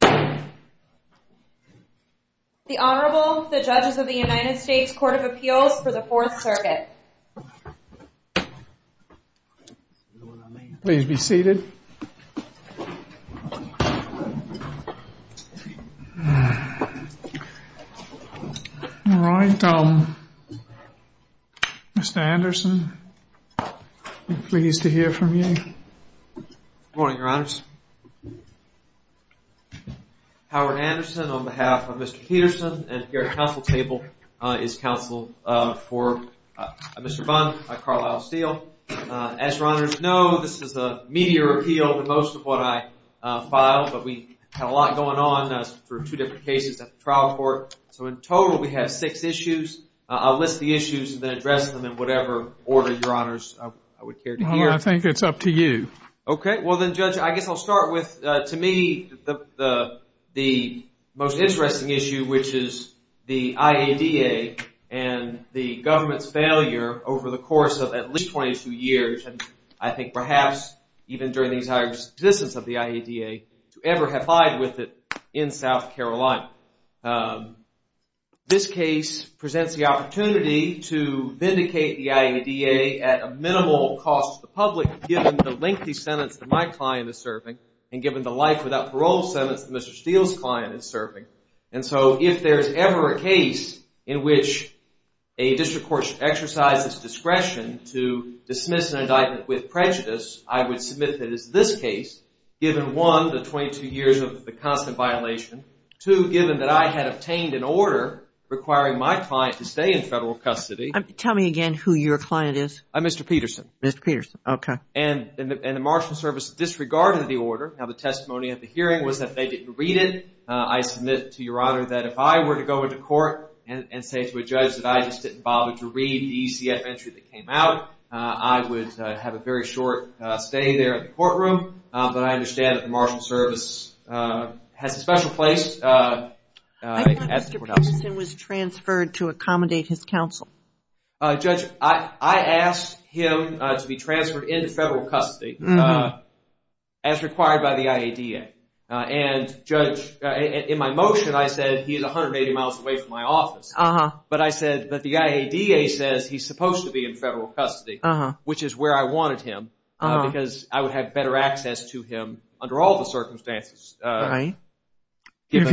The Honorable, the Judges of the United States Court of Appeals for the Fourth Circuit. Please be seated. All right, Mr. Anderson, I'm pleased to hear from you. Good morning, Your Honors. Howard Anderson on behalf of Mr. Peterson, and here at the council table is counsel for Mr. Bunn, Carlisle Steele. As Your Honors know, this is a media appeal for most of what I filed, but we had a lot going on for two different cases at the trial court. So in total, we have six issues. I'll list the issues and then address them in whatever order, Your Honors, I would care to hear. I think it's up to you. Okay, well then, Judge, I guess I'll start with, to me, the most interesting issue, which is the IADA and the government's failure over the course of at least 22 years, and I think perhaps even during the entire existence of the IADA, to ever have lied with it in South Carolina. This case presents the opportunity to vindicate the IADA at a minimal cost to the public, given the lengthy sentence that my client is serving and given the life-without-parole sentence that Mr. Steele's client is serving. And so if there is ever a case in which a district court should exercise its discretion to dismiss an indictment with prejudice, I would submit that it's this case, given, one, the 22 years of the constant violation, two, given that I had obtained an order requiring my client to stay in federal custody. Tell me again who your client is. Mr. Peterson. Mr. Peterson, okay. And the Marshal Service disregarded the order. Now, the testimony at the hearing was that they didn't read it. I submit to Your Honor that if I were to go into court and say to a judge that I just didn't bother to read the ECF entry that came out, I would have a very short stay there in the courtroom. But I understand that the Marshal Service has a special place at the courthouse. I thought Mr. Peterson was transferred to accommodate his counsel. Judge, I asked him to be transferred into federal custody as required by the IADA. And, Judge, in my motion I said he is 180 miles away from my office. But I said that the IADA says he's supposed to be in federal custody, which is where I wanted him, because I would have better access to him under all the circumstances. Right. If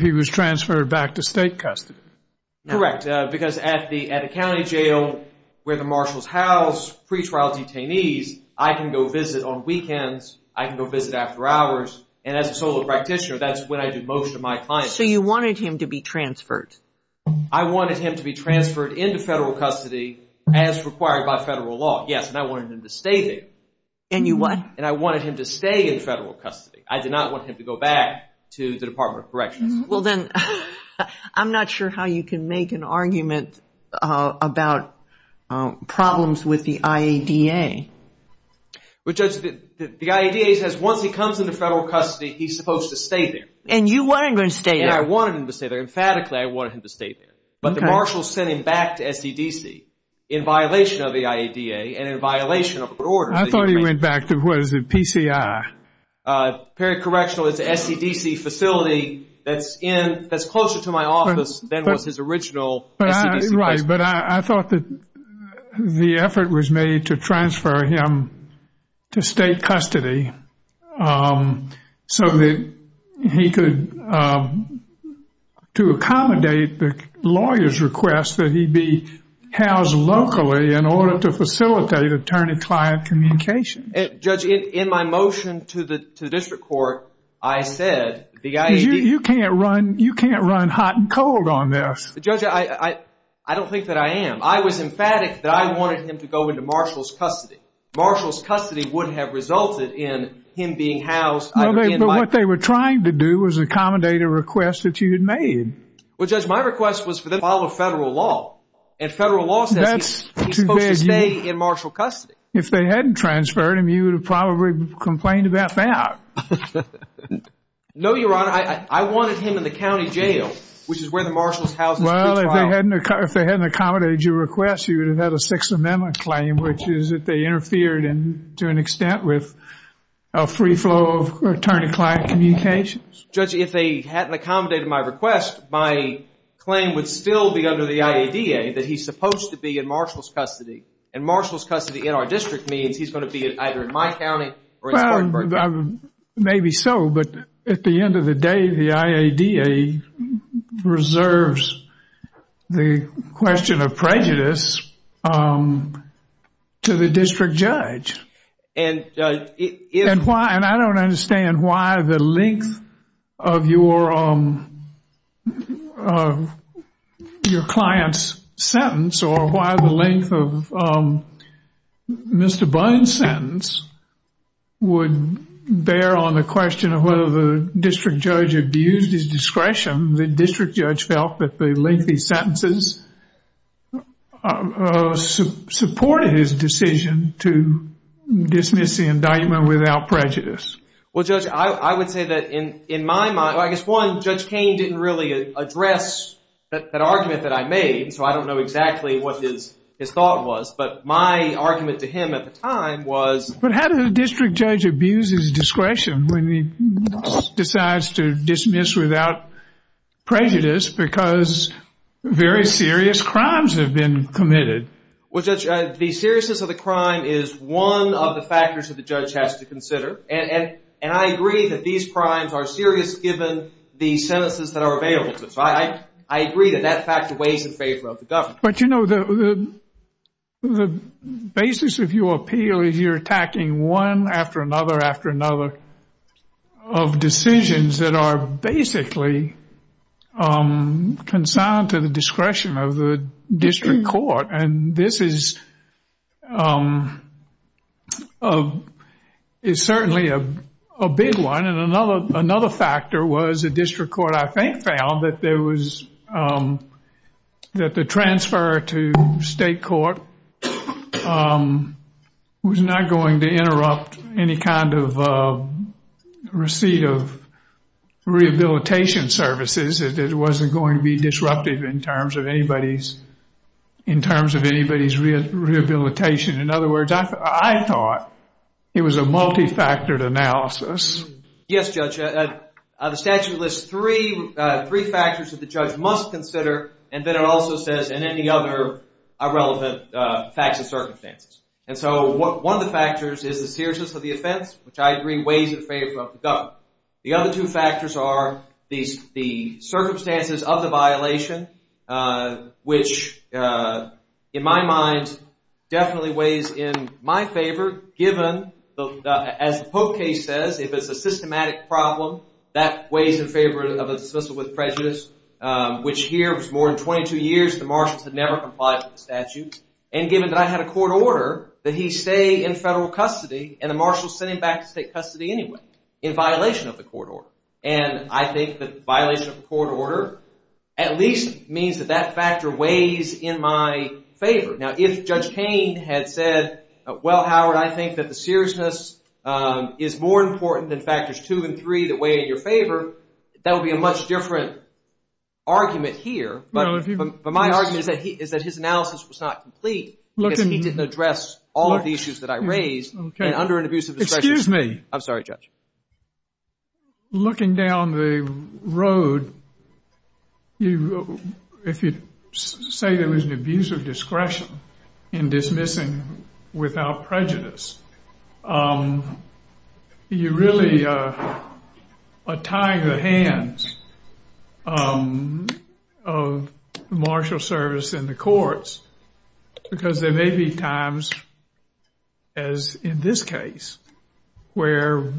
he was transferred back to state custody. Correct. Because at the county jail where the Marshal's house pretrial detainees, I can go visit on weekends. I can go visit after hours. And as a solo practitioner, that's when I do most of my clients. So you wanted him to be transferred. I wanted him to be transferred into federal custody as required by federal law, yes. And I wanted him to stay there. And you what? And I wanted him to stay in federal custody. I did not want him to go back to the Department of Corrections. Well, then, I'm not sure how you can make an argument about problems with the IADA. But, Judge, the IADA says once he comes into federal custody, he's supposed to stay there. And you wanted him to stay there. And I wanted him to stay there. Emphatically, I wanted him to stay there. But the Marshal sent him back to SEDC in violation of the IADA and in violation of orders. I thought he went back to, what is it, PCI? Apparent Correctional. It's a SEDC facility that's closer to my office than was his original SEDC facility. Right. But I thought that the effort was made to transfer him to state custody so that he could, to accommodate the lawyer's request that he be housed locally in order to facilitate attorney-client communication. Judge, in my motion to the district court, I said the IADA— You can't run hot and cold on this. Judge, I don't think that I am. I was emphatic that I wanted him to go into Marshal's custody. Marshal's custody would have resulted in him being housed— No, but what they were trying to do was accommodate a request that you had made. Well, Judge, my request was for them to follow federal law. And federal law says he's supposed to stay in Marshal custody. If they hadn't transferred him, you would have probably complained about that. No, Your Honor. I wanted him in the county jail, which is where the Marshal's house is pre-trial. Well, if they hadn't accommodated your request, you would have had a Sixth Amendment claim, which is that they interfered to an extent with a free flow of attorney-client communications. Judge, if they hadn't accommodated my request, my claim would still be under the IADA that he's supposed to be in Marshal's custody. And Marshal's custody in our district means he's going to be either in my county or in Spartanburg County. Maybe so, but at the end of the day, the IADA reserves the question of prejudice to the district judge. And I don't understand why the length of your client's sentence or why the length of Mr. Bynes' sentence would bear on the question of whether the district judge abused his discretion. The district judge felt that the lengthy sentences supported his decision to dismiss the indictment without prejudice. Well, Judge, I would say that in my mind, I guess one, Judge Kain didn't really address that argument that I made, so I don't know exactly what his thought was. But my argument to him at the time was... But how does a district judge abuse his discretion when he decides to dismiss without prejudice because very serious crimes have been committed? Well, Judge, the seriousness of the crime is one of the factors that the judge has to consider. And I agree that these crimes are serious given the sentences that are available to them. So I agree that that factor weighs in favor of the government. But, you know, the basis of your appeal is you're attacking one after another after another of decisions that are basically consigned to the discretion of the district court. And this is certainly a big one. And another factor was the district court, I think, found that the transfer to state court was not going to interrupt any kind of receipt of rehabilitation services. It wasn't going to be disruptive in terms of anybody's rehabilitation. In other words, I thought it was a multifactored analysis. Yes, Judge. The statute lists three factors that the judge must consider, and then it also says, and any other irrelevant facts and circumstances. And so one of the factors is the seriousness of the offense, which I agree weighs in favor of the government. The other two factors are the circumstances of the violation, which, in my mind, definitely weighs in my favor given, as the Pope case says, if it's a systematic problem, that weighs in favor of a dismissal with prejudice, which here was more than 22 years. The marshals had never complied with the statute. And given that I had a court order that he stay in federal custody, and the marshals sent him back to state custody anyway in violation of the court order. And I think that violation of the court order at least means that that factor weighs in my favor. Now, if Judge Kain had said, well, Howard, I think that the seriousness is more important than factors two and three that weigh in your favor, that would be a much different argument here. But my argument is that his analysis was not complete because he didn't address all of the issues that I raised. Okay. And under an abuse of discretion. Excuse me. I'm sorry, Judge. Looking down the road, if you say there was an abuse of discretion in dismissing without prejudice, you really are tying the hands of the marshal service and the courts. Because there may be times, as in this case, where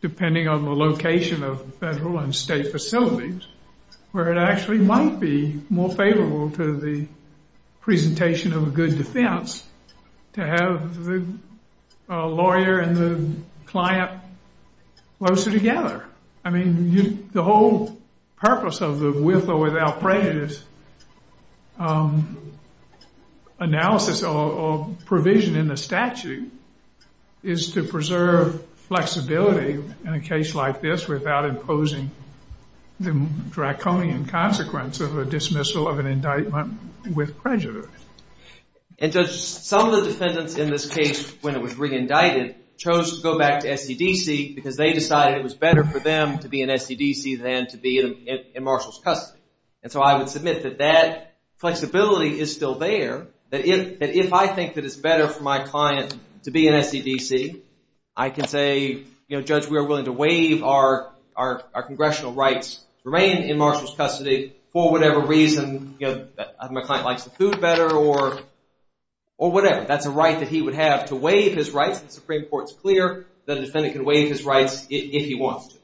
depending on the location of federal and state facilities, where it actually might be more favorable to the presentation of a good defense to have the lawyer and the client closer together. I mean, the whole purpose of the with or without prejudice analysis or provision in the statute is to preserve flexibility in a case like this without imposing the draconian consequence of a dismissal of an indictment with prejudice. And, Judge, some of the defendants in this case, when it was re-indicted, chose to go back to SEDC because they decided it was better for them to be in SEDC than to be in Marshall's custody. And so I would submit that that flexibility is still there, that if I think that it's better for my client to be in SEDC, I can say, Judge, we are willing to waive our congressional rights to remain in Marshall's custody for whatever reason. My client likes the food better or whatever. That's a right that he would have to waive his rights. The Supreme Court's clear that a defendant can waive his rights if he wants to.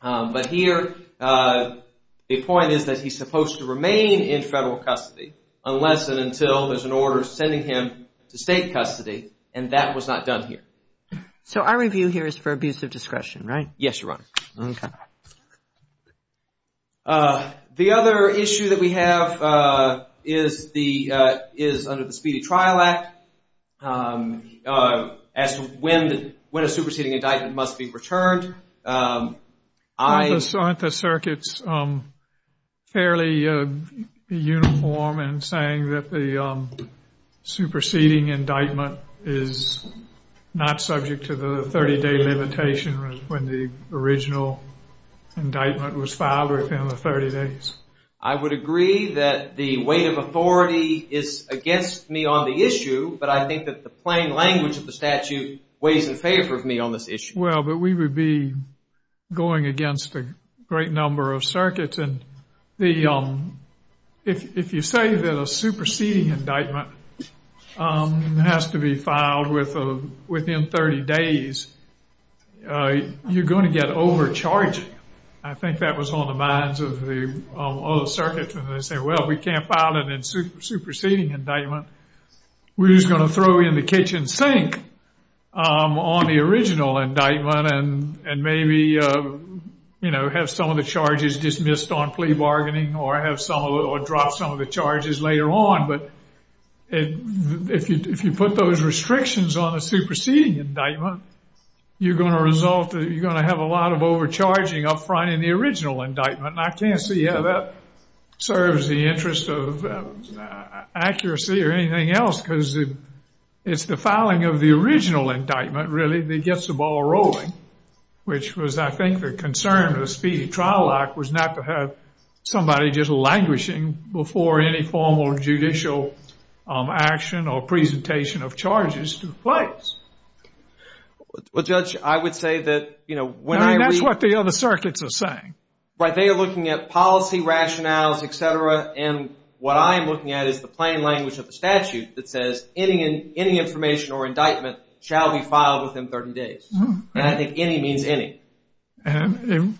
But here the point is that he's supposed to remain in federal custody unless and until there's an order sending him to state custody. And that was not done here. So our review here is for abuse of discretion, right? Yes, Your Honor. Okay. The other issue that we have is under the Speedy Trial Act as to when a superseding indictment must be returned. Aren't the circuits fairly uniform in saying that the superseding indictment is not subject to the 30-day limitation when the original indictment was filed within the 30 days? I would agree that the weight of authority is against me on the issue, but I think that the plain language of the statute weighs in favor of me on this issue. Well, but we would be going against a great number of circuits. And if you say that a superseding indictment has to be filed within 30 days, you're going to get overcharged. I think that was on the minds of the other circuits when they say, well, we can't file a superseding indictment. We're just going to throw you in the kitchen sink on the original indictment and maybe have some of the charges dismissed on plea bargaining or drop some of the charges later on. But if you put those restrictions on a superseding indictment, you're going to have a lot of overcharging up front in the original indictment. And I can't see how that serves the interest of accuracy or anything else, because it's the filing of the original indictment, really, that gets the ball rolling. Which was, I think, the concern of the Speedy Trial Act was not to have somebody just languishing before any formal judicial action or presentation of charges took place. Well, Judge, I would say that, you know, when I read... That's what the other circuits are saying. Right, they are looking at policy rationales, et cetera. And what I am looking at is the plain language of the statute that says any information or indictment shall be filed within 30 days. And I think any means any. And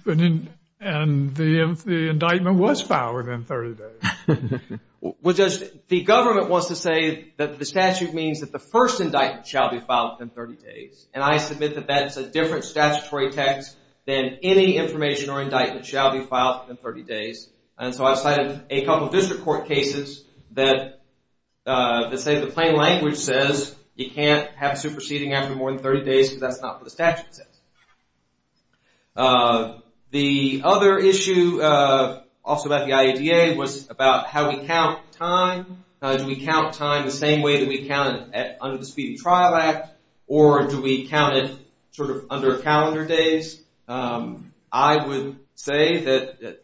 the indictment was filed within 30 days. Well, Judge, the government wants to say that the statute means that the first indictment shall be filed within 30 days. And I submit that that's a different statutory text than any information or indictment shall be filed within 30 days. And so I've cited a couple of district court cases that say the plain language says you can't have superseding after more than 30 days because that's not what the statute says. The other issue also about the IADA was about how we count time. Do we count time the same way that we counted under the Speedy Trial Act or do we count it sort of under calendar days? I would say that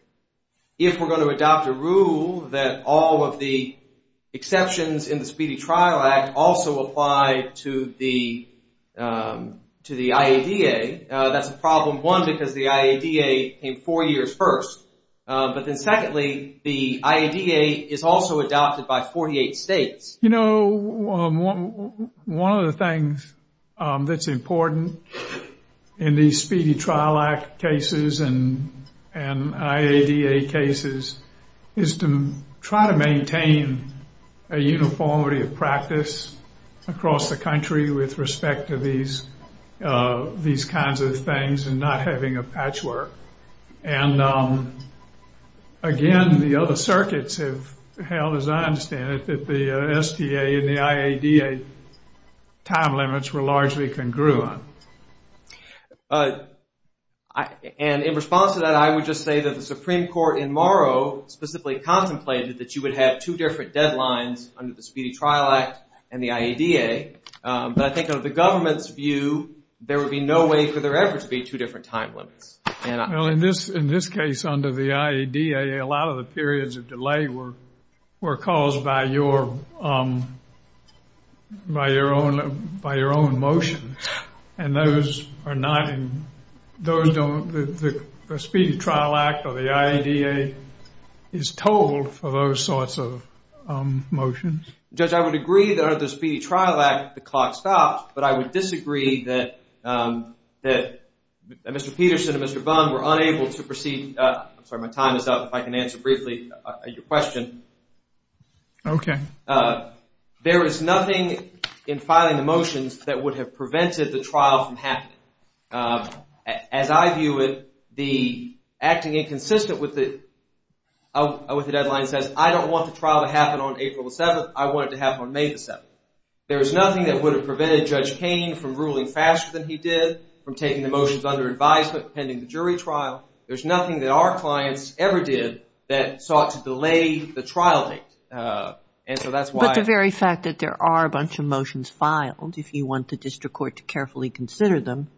if we're going to adopt a rule that all of the exceptions in the Speedy Trial Act also apply to the IADA, that's a problem. One, because the IADA came four years first. But then secondly, the IADA is also adopted by 48 states. You know, one of the things that's important in these Speedy Trial Act cases and IADA cases is to try to maintain a uniformity of practice across the country with respect to these kinds of things and not having a patchwork. And again, the other circuits have held, as I understand it, that the STA and the IADA time limits were largely congruent. And in response to that, I would just say that the Supreme Court in Morrow specifically contemplated that you would have two different deadlines under the Speedy Trial Act and the IADA. But I think of the government's view, there would be no way for there ever to be two different time limits. Well, in this case under the IADA, a lot of the periods of delay were caused by your own motion. And those are not in the Speedy Trial Act or the IADA is told for those sorts of motions. Judge, I would agree that under the Speedy Trial Act the clock stopped, but I would disagree that Mr. Peterson and Mr. Bond were unable to proceed. I'm sorry, my time is up. If I can answer briefly your question. Okay. There is nothing in filing the motions that would have prevented the trial from happening. As I view it, the acting inconsistent with the deadline says, I don't want the trial to happen on April the 7th, I want it to happen on May the 7th. There is nothing that would have prevented Judge Payne from ruling faster than he did, from taking the motions under advisement pending the jury trial. There's nothing that our clients ever did that sought to delay the trial date. But the very fact that there are a bunch of motions filed, if you want the district court to carefully consider them,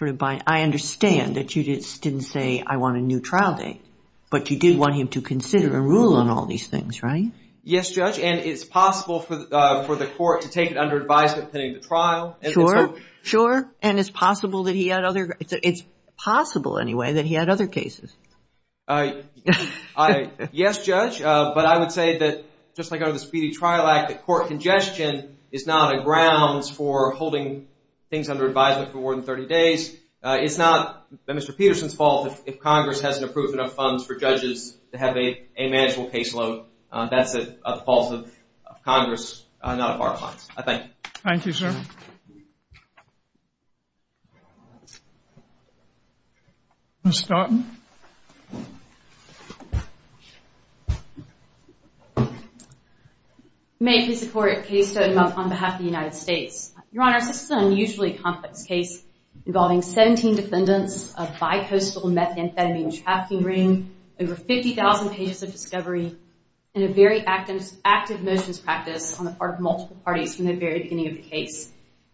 I understand that you didn't say, I want a new trial date, but you did want him to consider and rule on all these things, right? Yes, Judge, and it's possible for the court to take it under advisement pending the trial. Sure, sure, and it's possible that he had other, it's possible anyway that he had other cases. Yes, Judge, but I would say that, just like under the Speedy Trial Act, that court congestion is not a grounds for holding things under advisement for more than 30 days. It's not Mr. Peterson's fault if Congress hasn't approved enough funds for judges to have a manageable caseload. That's a fault of Congress, not of our clients. I thank you. Thank you, sir. Ms. Stoughton? May I please support a case on behalf of the United States? Your Honor, this is an unusually complex case involving 17 defendants, a bi-coastal methamphetamine trafficking ring, over 50,000 pages of discovery, and a very active motions practice on the part of multiple parties from the very beginning of the case.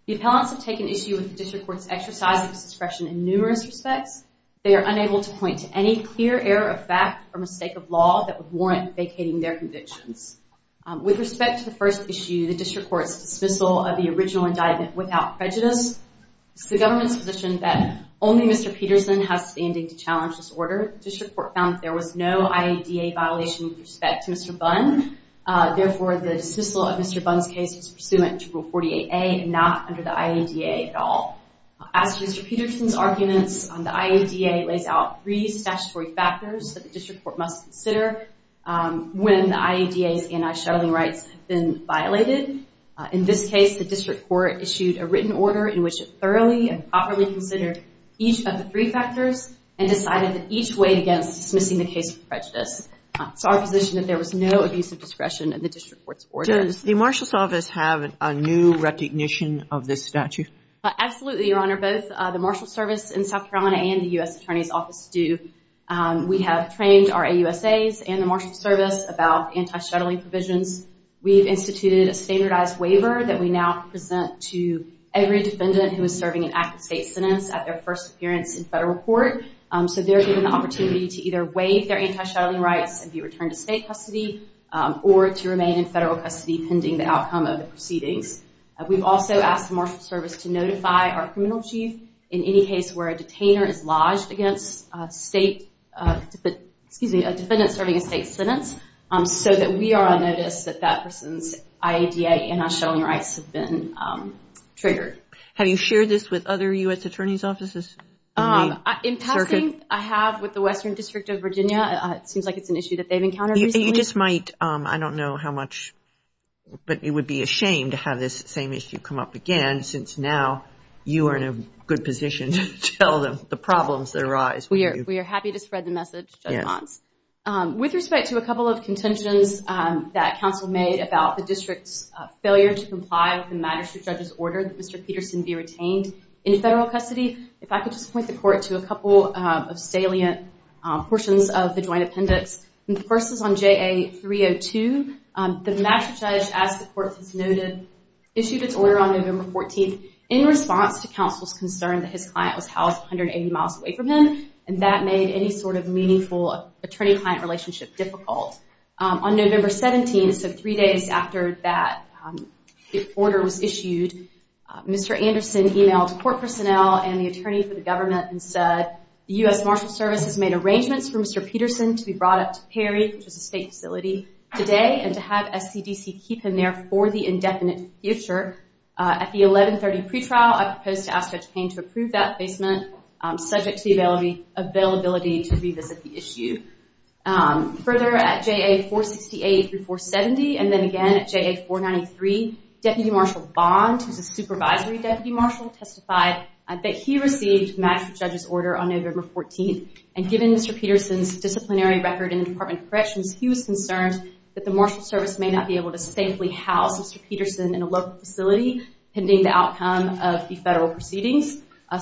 The appellants have taken issue with the district court's exercise of discretion in numerous respects. They are unable to point to any clear error of fact or mistake of law that would warrant vacating their convictions. With respect to the first issue, the district court's dismissal of the original indictment without prejudice, it's the government's position that only Mr. Peterson has standing to challenge this order. The district court found that there was no IADA violation with respect to Mr. Bunn. Therefore, the dismissal of Mr. Bunn's case is pursuant to Rule 48A and not under the IADA at all. As to Mr. Peterson's arguments, the IADA lays out three statutory factors that the district court must consider when the IADA's anti-shuttling rights have been violated. In this case, the district court issued a written order in which it thoroughly and properly considered each of the three factors and decided that each weighed against dismissing the case for prejudice. It's our position that there was no abuse of discretion in the district court's order. Does the Marshal's Office have a new recognition of this statute? Absolutely, Your Honor. Both the Marshal's Service in South Carolina and the U.S. Attorney's Office do. We have trained our AUSAs and the Marshal's Service about anti-shuttling provisions. We've instituted a standardized waiver that we now present to every defendant who is serving an active state sentence at their first appearance in federal court. So they're given the opportunity to either waive their anti-shuttling rights and be returned to state custody or to remain in federal custody pending the outcome of the proceedings. We've also asked the Marshal's Service to notify our criminal chief in any case where a detainer is lodged against a defendant serving a state sentence so that we are on notice that that person's IADA anti-shuttling rights have been triggered. Have you shared this with other U.S. Attorney's Offices? In passing, I have with the Western District of Virginia. It seems like it's an issue that they've encountered. You just might, I don't know how much, but it would be a shame to have this same issue come up again since now you are in a good position to tell them the problems that arise. We are happy to spread the message, Judge Mons. With respect to a couple of contentions that counsel made about the district's failure to comply with the magistrate judge's order that Mr. Peterson be retained in federal custody, if I could just point the court to a couple of salient portions of the joint appendix. The first is on JA-302. The magistrate judge, as the court has noted, issued its order on November 14th in response to counsel's concern that his client was housed 180 miles away from him and that made any sort of meaningful attorney-client relationship difficult. On November 17th, so three days after that order was issued, Mr. Anderson emailed court personnel and the attorney for the government and said the U.S. Marshals Service has made arrangements for Mr. Peterson to be brought up to Perry, which is a state facility, today and to have SCDC keep him there for the indefinite future. At the 1130 pretrial, I proposed to ask Judge Payne to approve that placement subject to the availability to revisit the issue. Further, at JA-468 through 470 and then again at JA-493, Deputy Marshal Bond, who is a supervisory deputy marshal, testified that he received the magistrate judge's order on November 14th and given Mr. Peterson's disciplinary record in the Department of Corrections, he was concerned that the Marshal Service may not be able to safely house Mr. Peterson in a local facility pending the outcome of the federal proceedings.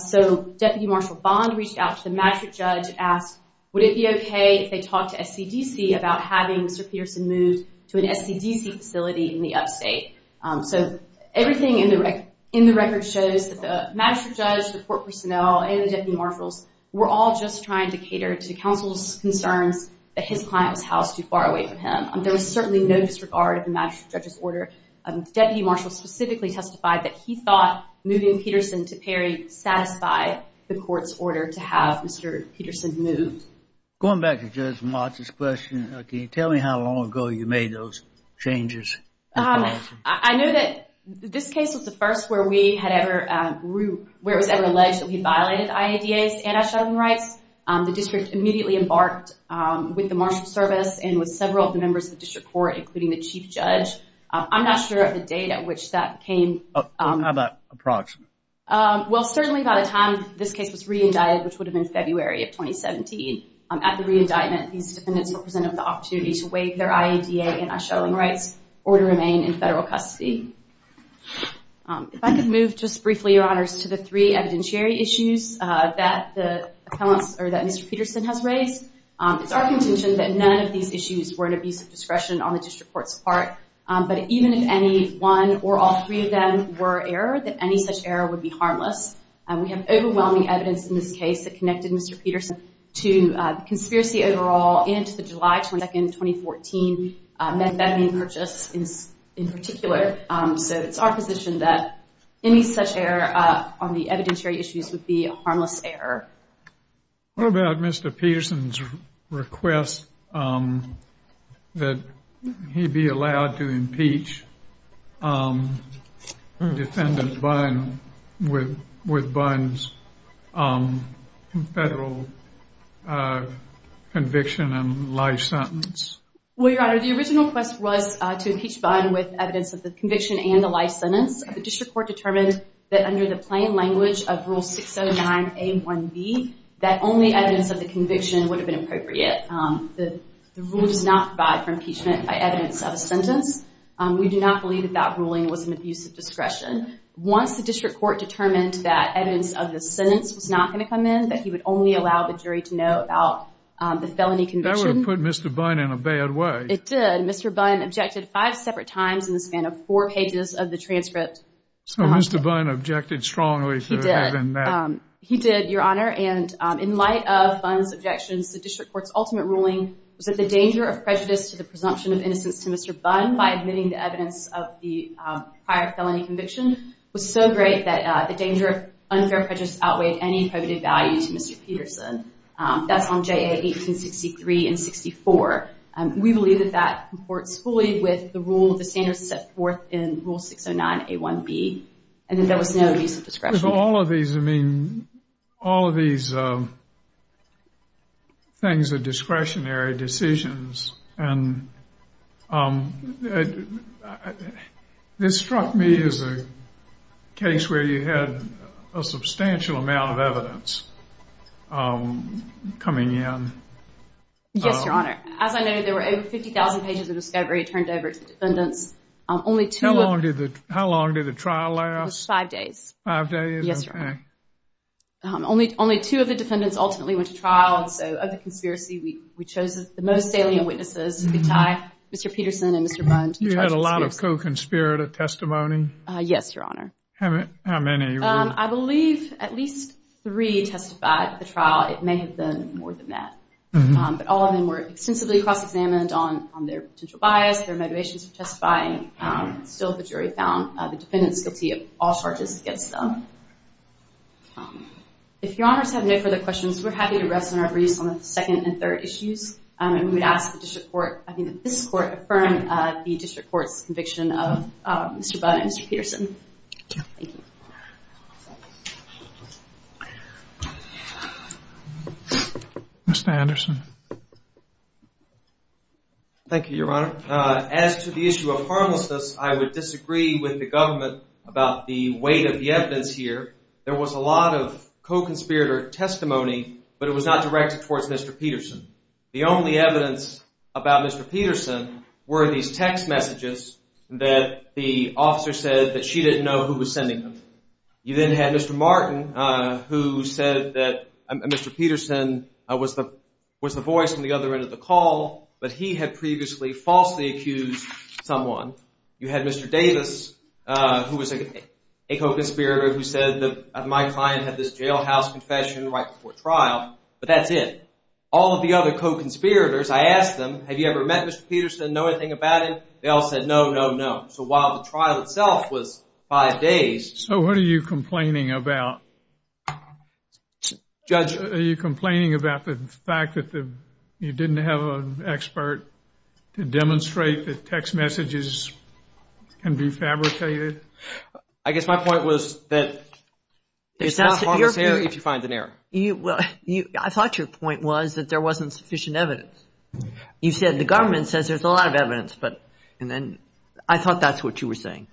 So, Deputy Marshal Bond reached out to the magistrate judge and asked, would it be okay if they talked to SCDC about having Mr. Peterson moved to an SCDC facility in the upstate? So, everything in the record shows that the magistrate judge, the court personnel, and the deputy marshals were all just trying to cater to counsel's concerns that his client was housed too far away from him. There was certainly no disregard of the magistrate judge's order. Deputy Marshal specifically testified that he thought moving Peterson to Perry satisfied the court's order to have Mr. Peterson moved. Going back to Judge Mott's question, can you tell me how long ago you made those changes? I know that this case was the first where it was ever alleged that we violated IADA's anti-shuttling rights. The district immediately embarked with the Marshal Service and with several of the members of the district court, including the chief judge. I'm not sure of the date at which that came. How about approximately? Well, certainly by the time this case was re-indicted, which would have been February of 2017, at the re-indictment, these defendants were presented with the opportunity to waive their IADA anti-shuttling rights or to remain in federal custody. If I could move just briefly, Your Honors, to the three evidentiary issues that Mr. Peterson has raised. It's our contention that none of these issues were an abuse of discretion on the district court's part, but even if any one or all three of them were error, that any such error would be harmless. We have overwhelming evidence in this case that connected Mr. Peterson to conspiracy overall and to the July 22, 2014, methamphetamine purchase in particular. So it's our position that any such error on the evidentiary issues would be a harmless error. What about Mr. Peterson's request that he be allowed to impeach defendant Bunn with Bunn's federal conviction and life sentence? Well, Your Honor, the original request was to impeach Bunn with evidence of the conviction and the life sentence. The district court determined that under the plain language of Rule 609A1B, that only evidence of the conviction would have been appropriate. The rule does not provide for impeachment by evidence of a sentence. We do not believe that that ruling was an abuse of discretion. Once the district court determined that evidence of the sentence was not going to come in, that he would only allow the jury to know about the felony conviction. That would have put Mr. Bunn in a bad way. It did. And Mr. Bunn objected five separate times in the span of four pages of the transcript. So Mr. Bunn objected strongly to having that? He did, Your Honor. And in light of Bunn's objections, the district court's ultimate ruling was that the danger of prejudice to the presumption of innocence to Mr. Bunn by admitting the evidence of the prior felony conviction was so great that the danger of unfair prejudice outweighed any probative value to Mr. Peterson. That's on JA 1863 and 64. We believe that that comports fully with the rule, the standards set forth in Rule 609A1B, and that there was no abuse of discretion. With all of these, I mean, all of these things are discretionary decisions. And this struck me as a case where you had a substantial amount of evidence coming in. Yes, Your Honor. As I noted, there were over 50,000 pages of discovery turned over to defendants. How long did the trial last? It was five days. Five days? Yes, Your Honor. Only two of the defendants ultimately went to trial, and so of the conspiracy, we chose the most salient witnesses to be tied, Mr. Peterson and Mr. Bunn. You had a lot of co-conspirator testimony? Yes, Your Honor. How many? I believe at least three testified at the trial. It may have been more than that. But all of them were extensively cross-examined on their potential bias, their motivations for testifying. Still, the jury found the defendants guilty of all charges against them. If Your Honors have no further questions, we're happy to rest on our briefs on the second and third issues. And we'd ask that this Court affirm the District Court's conviction of Mr. Bunn and Mr. Peterson. Thank you. Mr. Anderson. Thank you, Your Honor. As to the issue of harmlessness, I would disagree with the government about the weight of the evidence here. There was a lot of co-conspirator testimony, but it was not directed towards Mr. Peterson. The only evidence about Mr. Peterson were these text messages that the officer said that she didn't know who was sending them. You then had Mr. Martin, who said that Mr. Peterson was the voice on the other end of the call, but he had previously falsely accused someone. You had Mr. Davis, who was a co-conspirator, who said that my client had this jailhouse confession right before trial, but that's it. All of the other co-conspirators, I asked them, have you ever met Mr. Peterson, know anything about him? They all said no, no, no. So while the trial itself was five days. So what are you complaining about? Judge. Are you complaining about the fact that you didn't have an expert to demonstrate that text messages can be fabricated? I guess my point was that it's not harmless error if you find an error. I thought your point was that there wasn't sufficient evidence. You said the government says there's a lot of evidence, but then I thought that's what you were saying.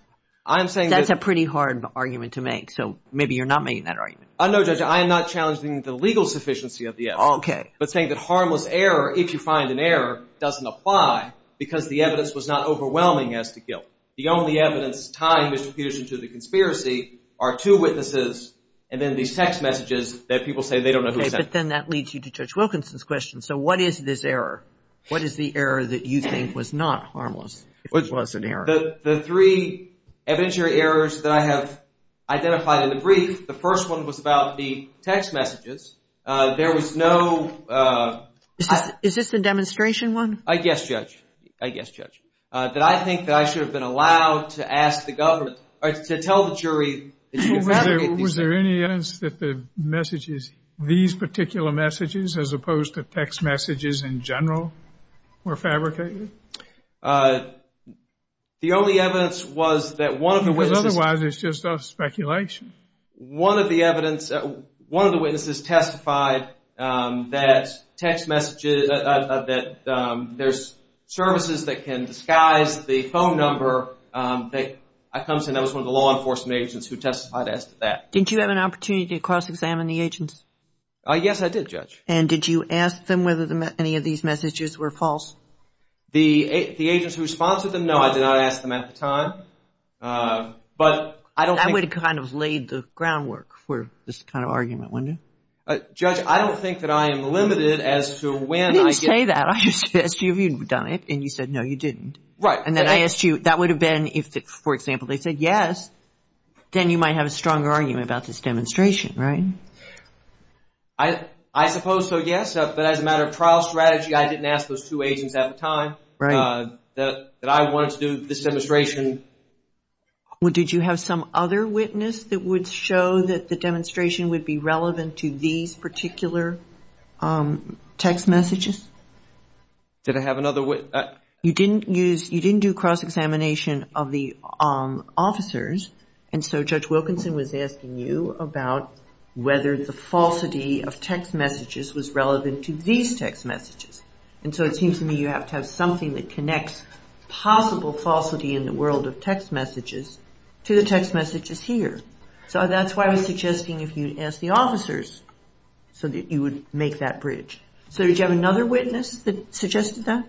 That's a pretty hard argument to make, so maybe you're not making that argument. No, Judge, I am not challenging the legal sufficiency of the evidence, but saying that harmless error, if you find an error, doesn't apply because the evidence was not overwhelming as to guilt. The only evidence tying Mr. Peterson to the conspiracy are two witnesses and then these text messages that people say they don't know who sent them. Okay, but then that leads you to Judge Wilkinson's question. So what is this error? What is the error that you think was not harmless if it was an error? The three evidentiary errors that I have identified in the brief, the first one was about the text messages. There was no – Is this the demonstration one? Yes, Judge. I guess, Judge, that I think that I should have been allowed to ask the government or to tell the jury that you fabricated these messages. Was there any evidence that the messages, these particular messages, as opposed to text messages in general, were fabricated? The only evidence was that one of the witnesses – Otherwise, it's just speculation. One of the evidence – one of the witnesses testified that text messages – that there's services that can disguise the phone number. I come to know it was one of the law enforcement agents who testified as to that. Didn't you have an opportunity to cross-examine the agents? Yes, I did, Judge. And did you ask them whether any of these messages were false? The agents who sponsored them, no, I did not ask them at the time. But I don't think – That would have kind of laid the groundwork for this kind of argument, wouldn't it? Judge, I don't think that I am limited as to when I get – You didn't say that. I asked you if you'd done it, and you said no, you didn't. Right. And then I asked you – that would have been if, for example, they said yes, then you might have a stronger argument about this demonstration, right? I suppose so, yes. But as a matter of trial strategy, I didn't ask those two agents at the time. Right. That I wanted to do this demonstration. Well, did you have some other witness that would show that the demonstration would be relevant to these particular text messages? Did I have another witness? You didn't use – you didn't do cross-examination of the officers, and so Judge Wilkinson was asking you about whether the falsity of text messages was relevant to these text messages. And so it seems to me you have to have something that connects possible falsity in the world of text messages to the text messages here. So that's why I was suggesting if you'd ask the officers so that you would make that bridge. So did you have another witness that suggested that?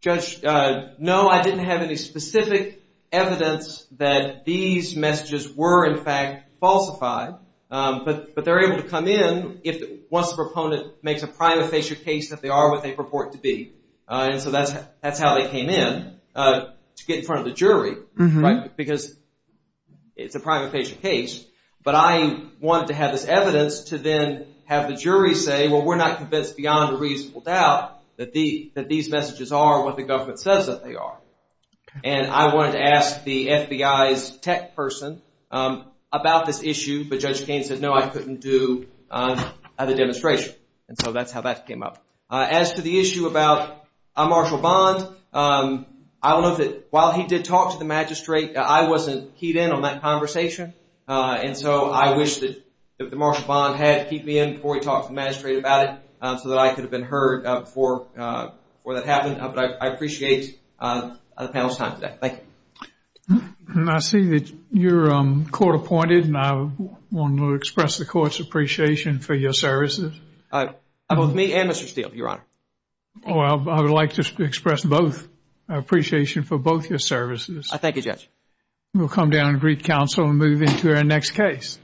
Judge, no, I didn't have any specific evidence that these messages were, in fact, falsified. But they're able to come in once the proponent makes a prima facie case that they are what they purport to be. And so that's how they came in, to get in front of the jury, right, because it's a prima facie case. But I wanted to have this evidence to then have the jury say, well, we're not convinced beyond a reasonable doubt that these messages are what the government says that they are. And I wanted to ask the FBI's tech person about this issue. But Judge Kaine said, no, I couldn't do the demonstration. And so that's how that came up. As to the issue about Marshall Bond, I will note that while he did talk to the magistrate, I wasn't keyed in on that conversation. And so I wish that Marshall Bond had keyed me in before he talked to the magistrate about it so that I could have been heard before that happened. But I appreciate the panel's time today. Thank you. And I see that you're court appointed. And I want to express the court's appreciation for your services. Both me and Mr. Steele, Your Honor. Oh, I would like to express both appreciation for both your services. Thank you, Judge. We'll come down and greet counsel and move into our next case.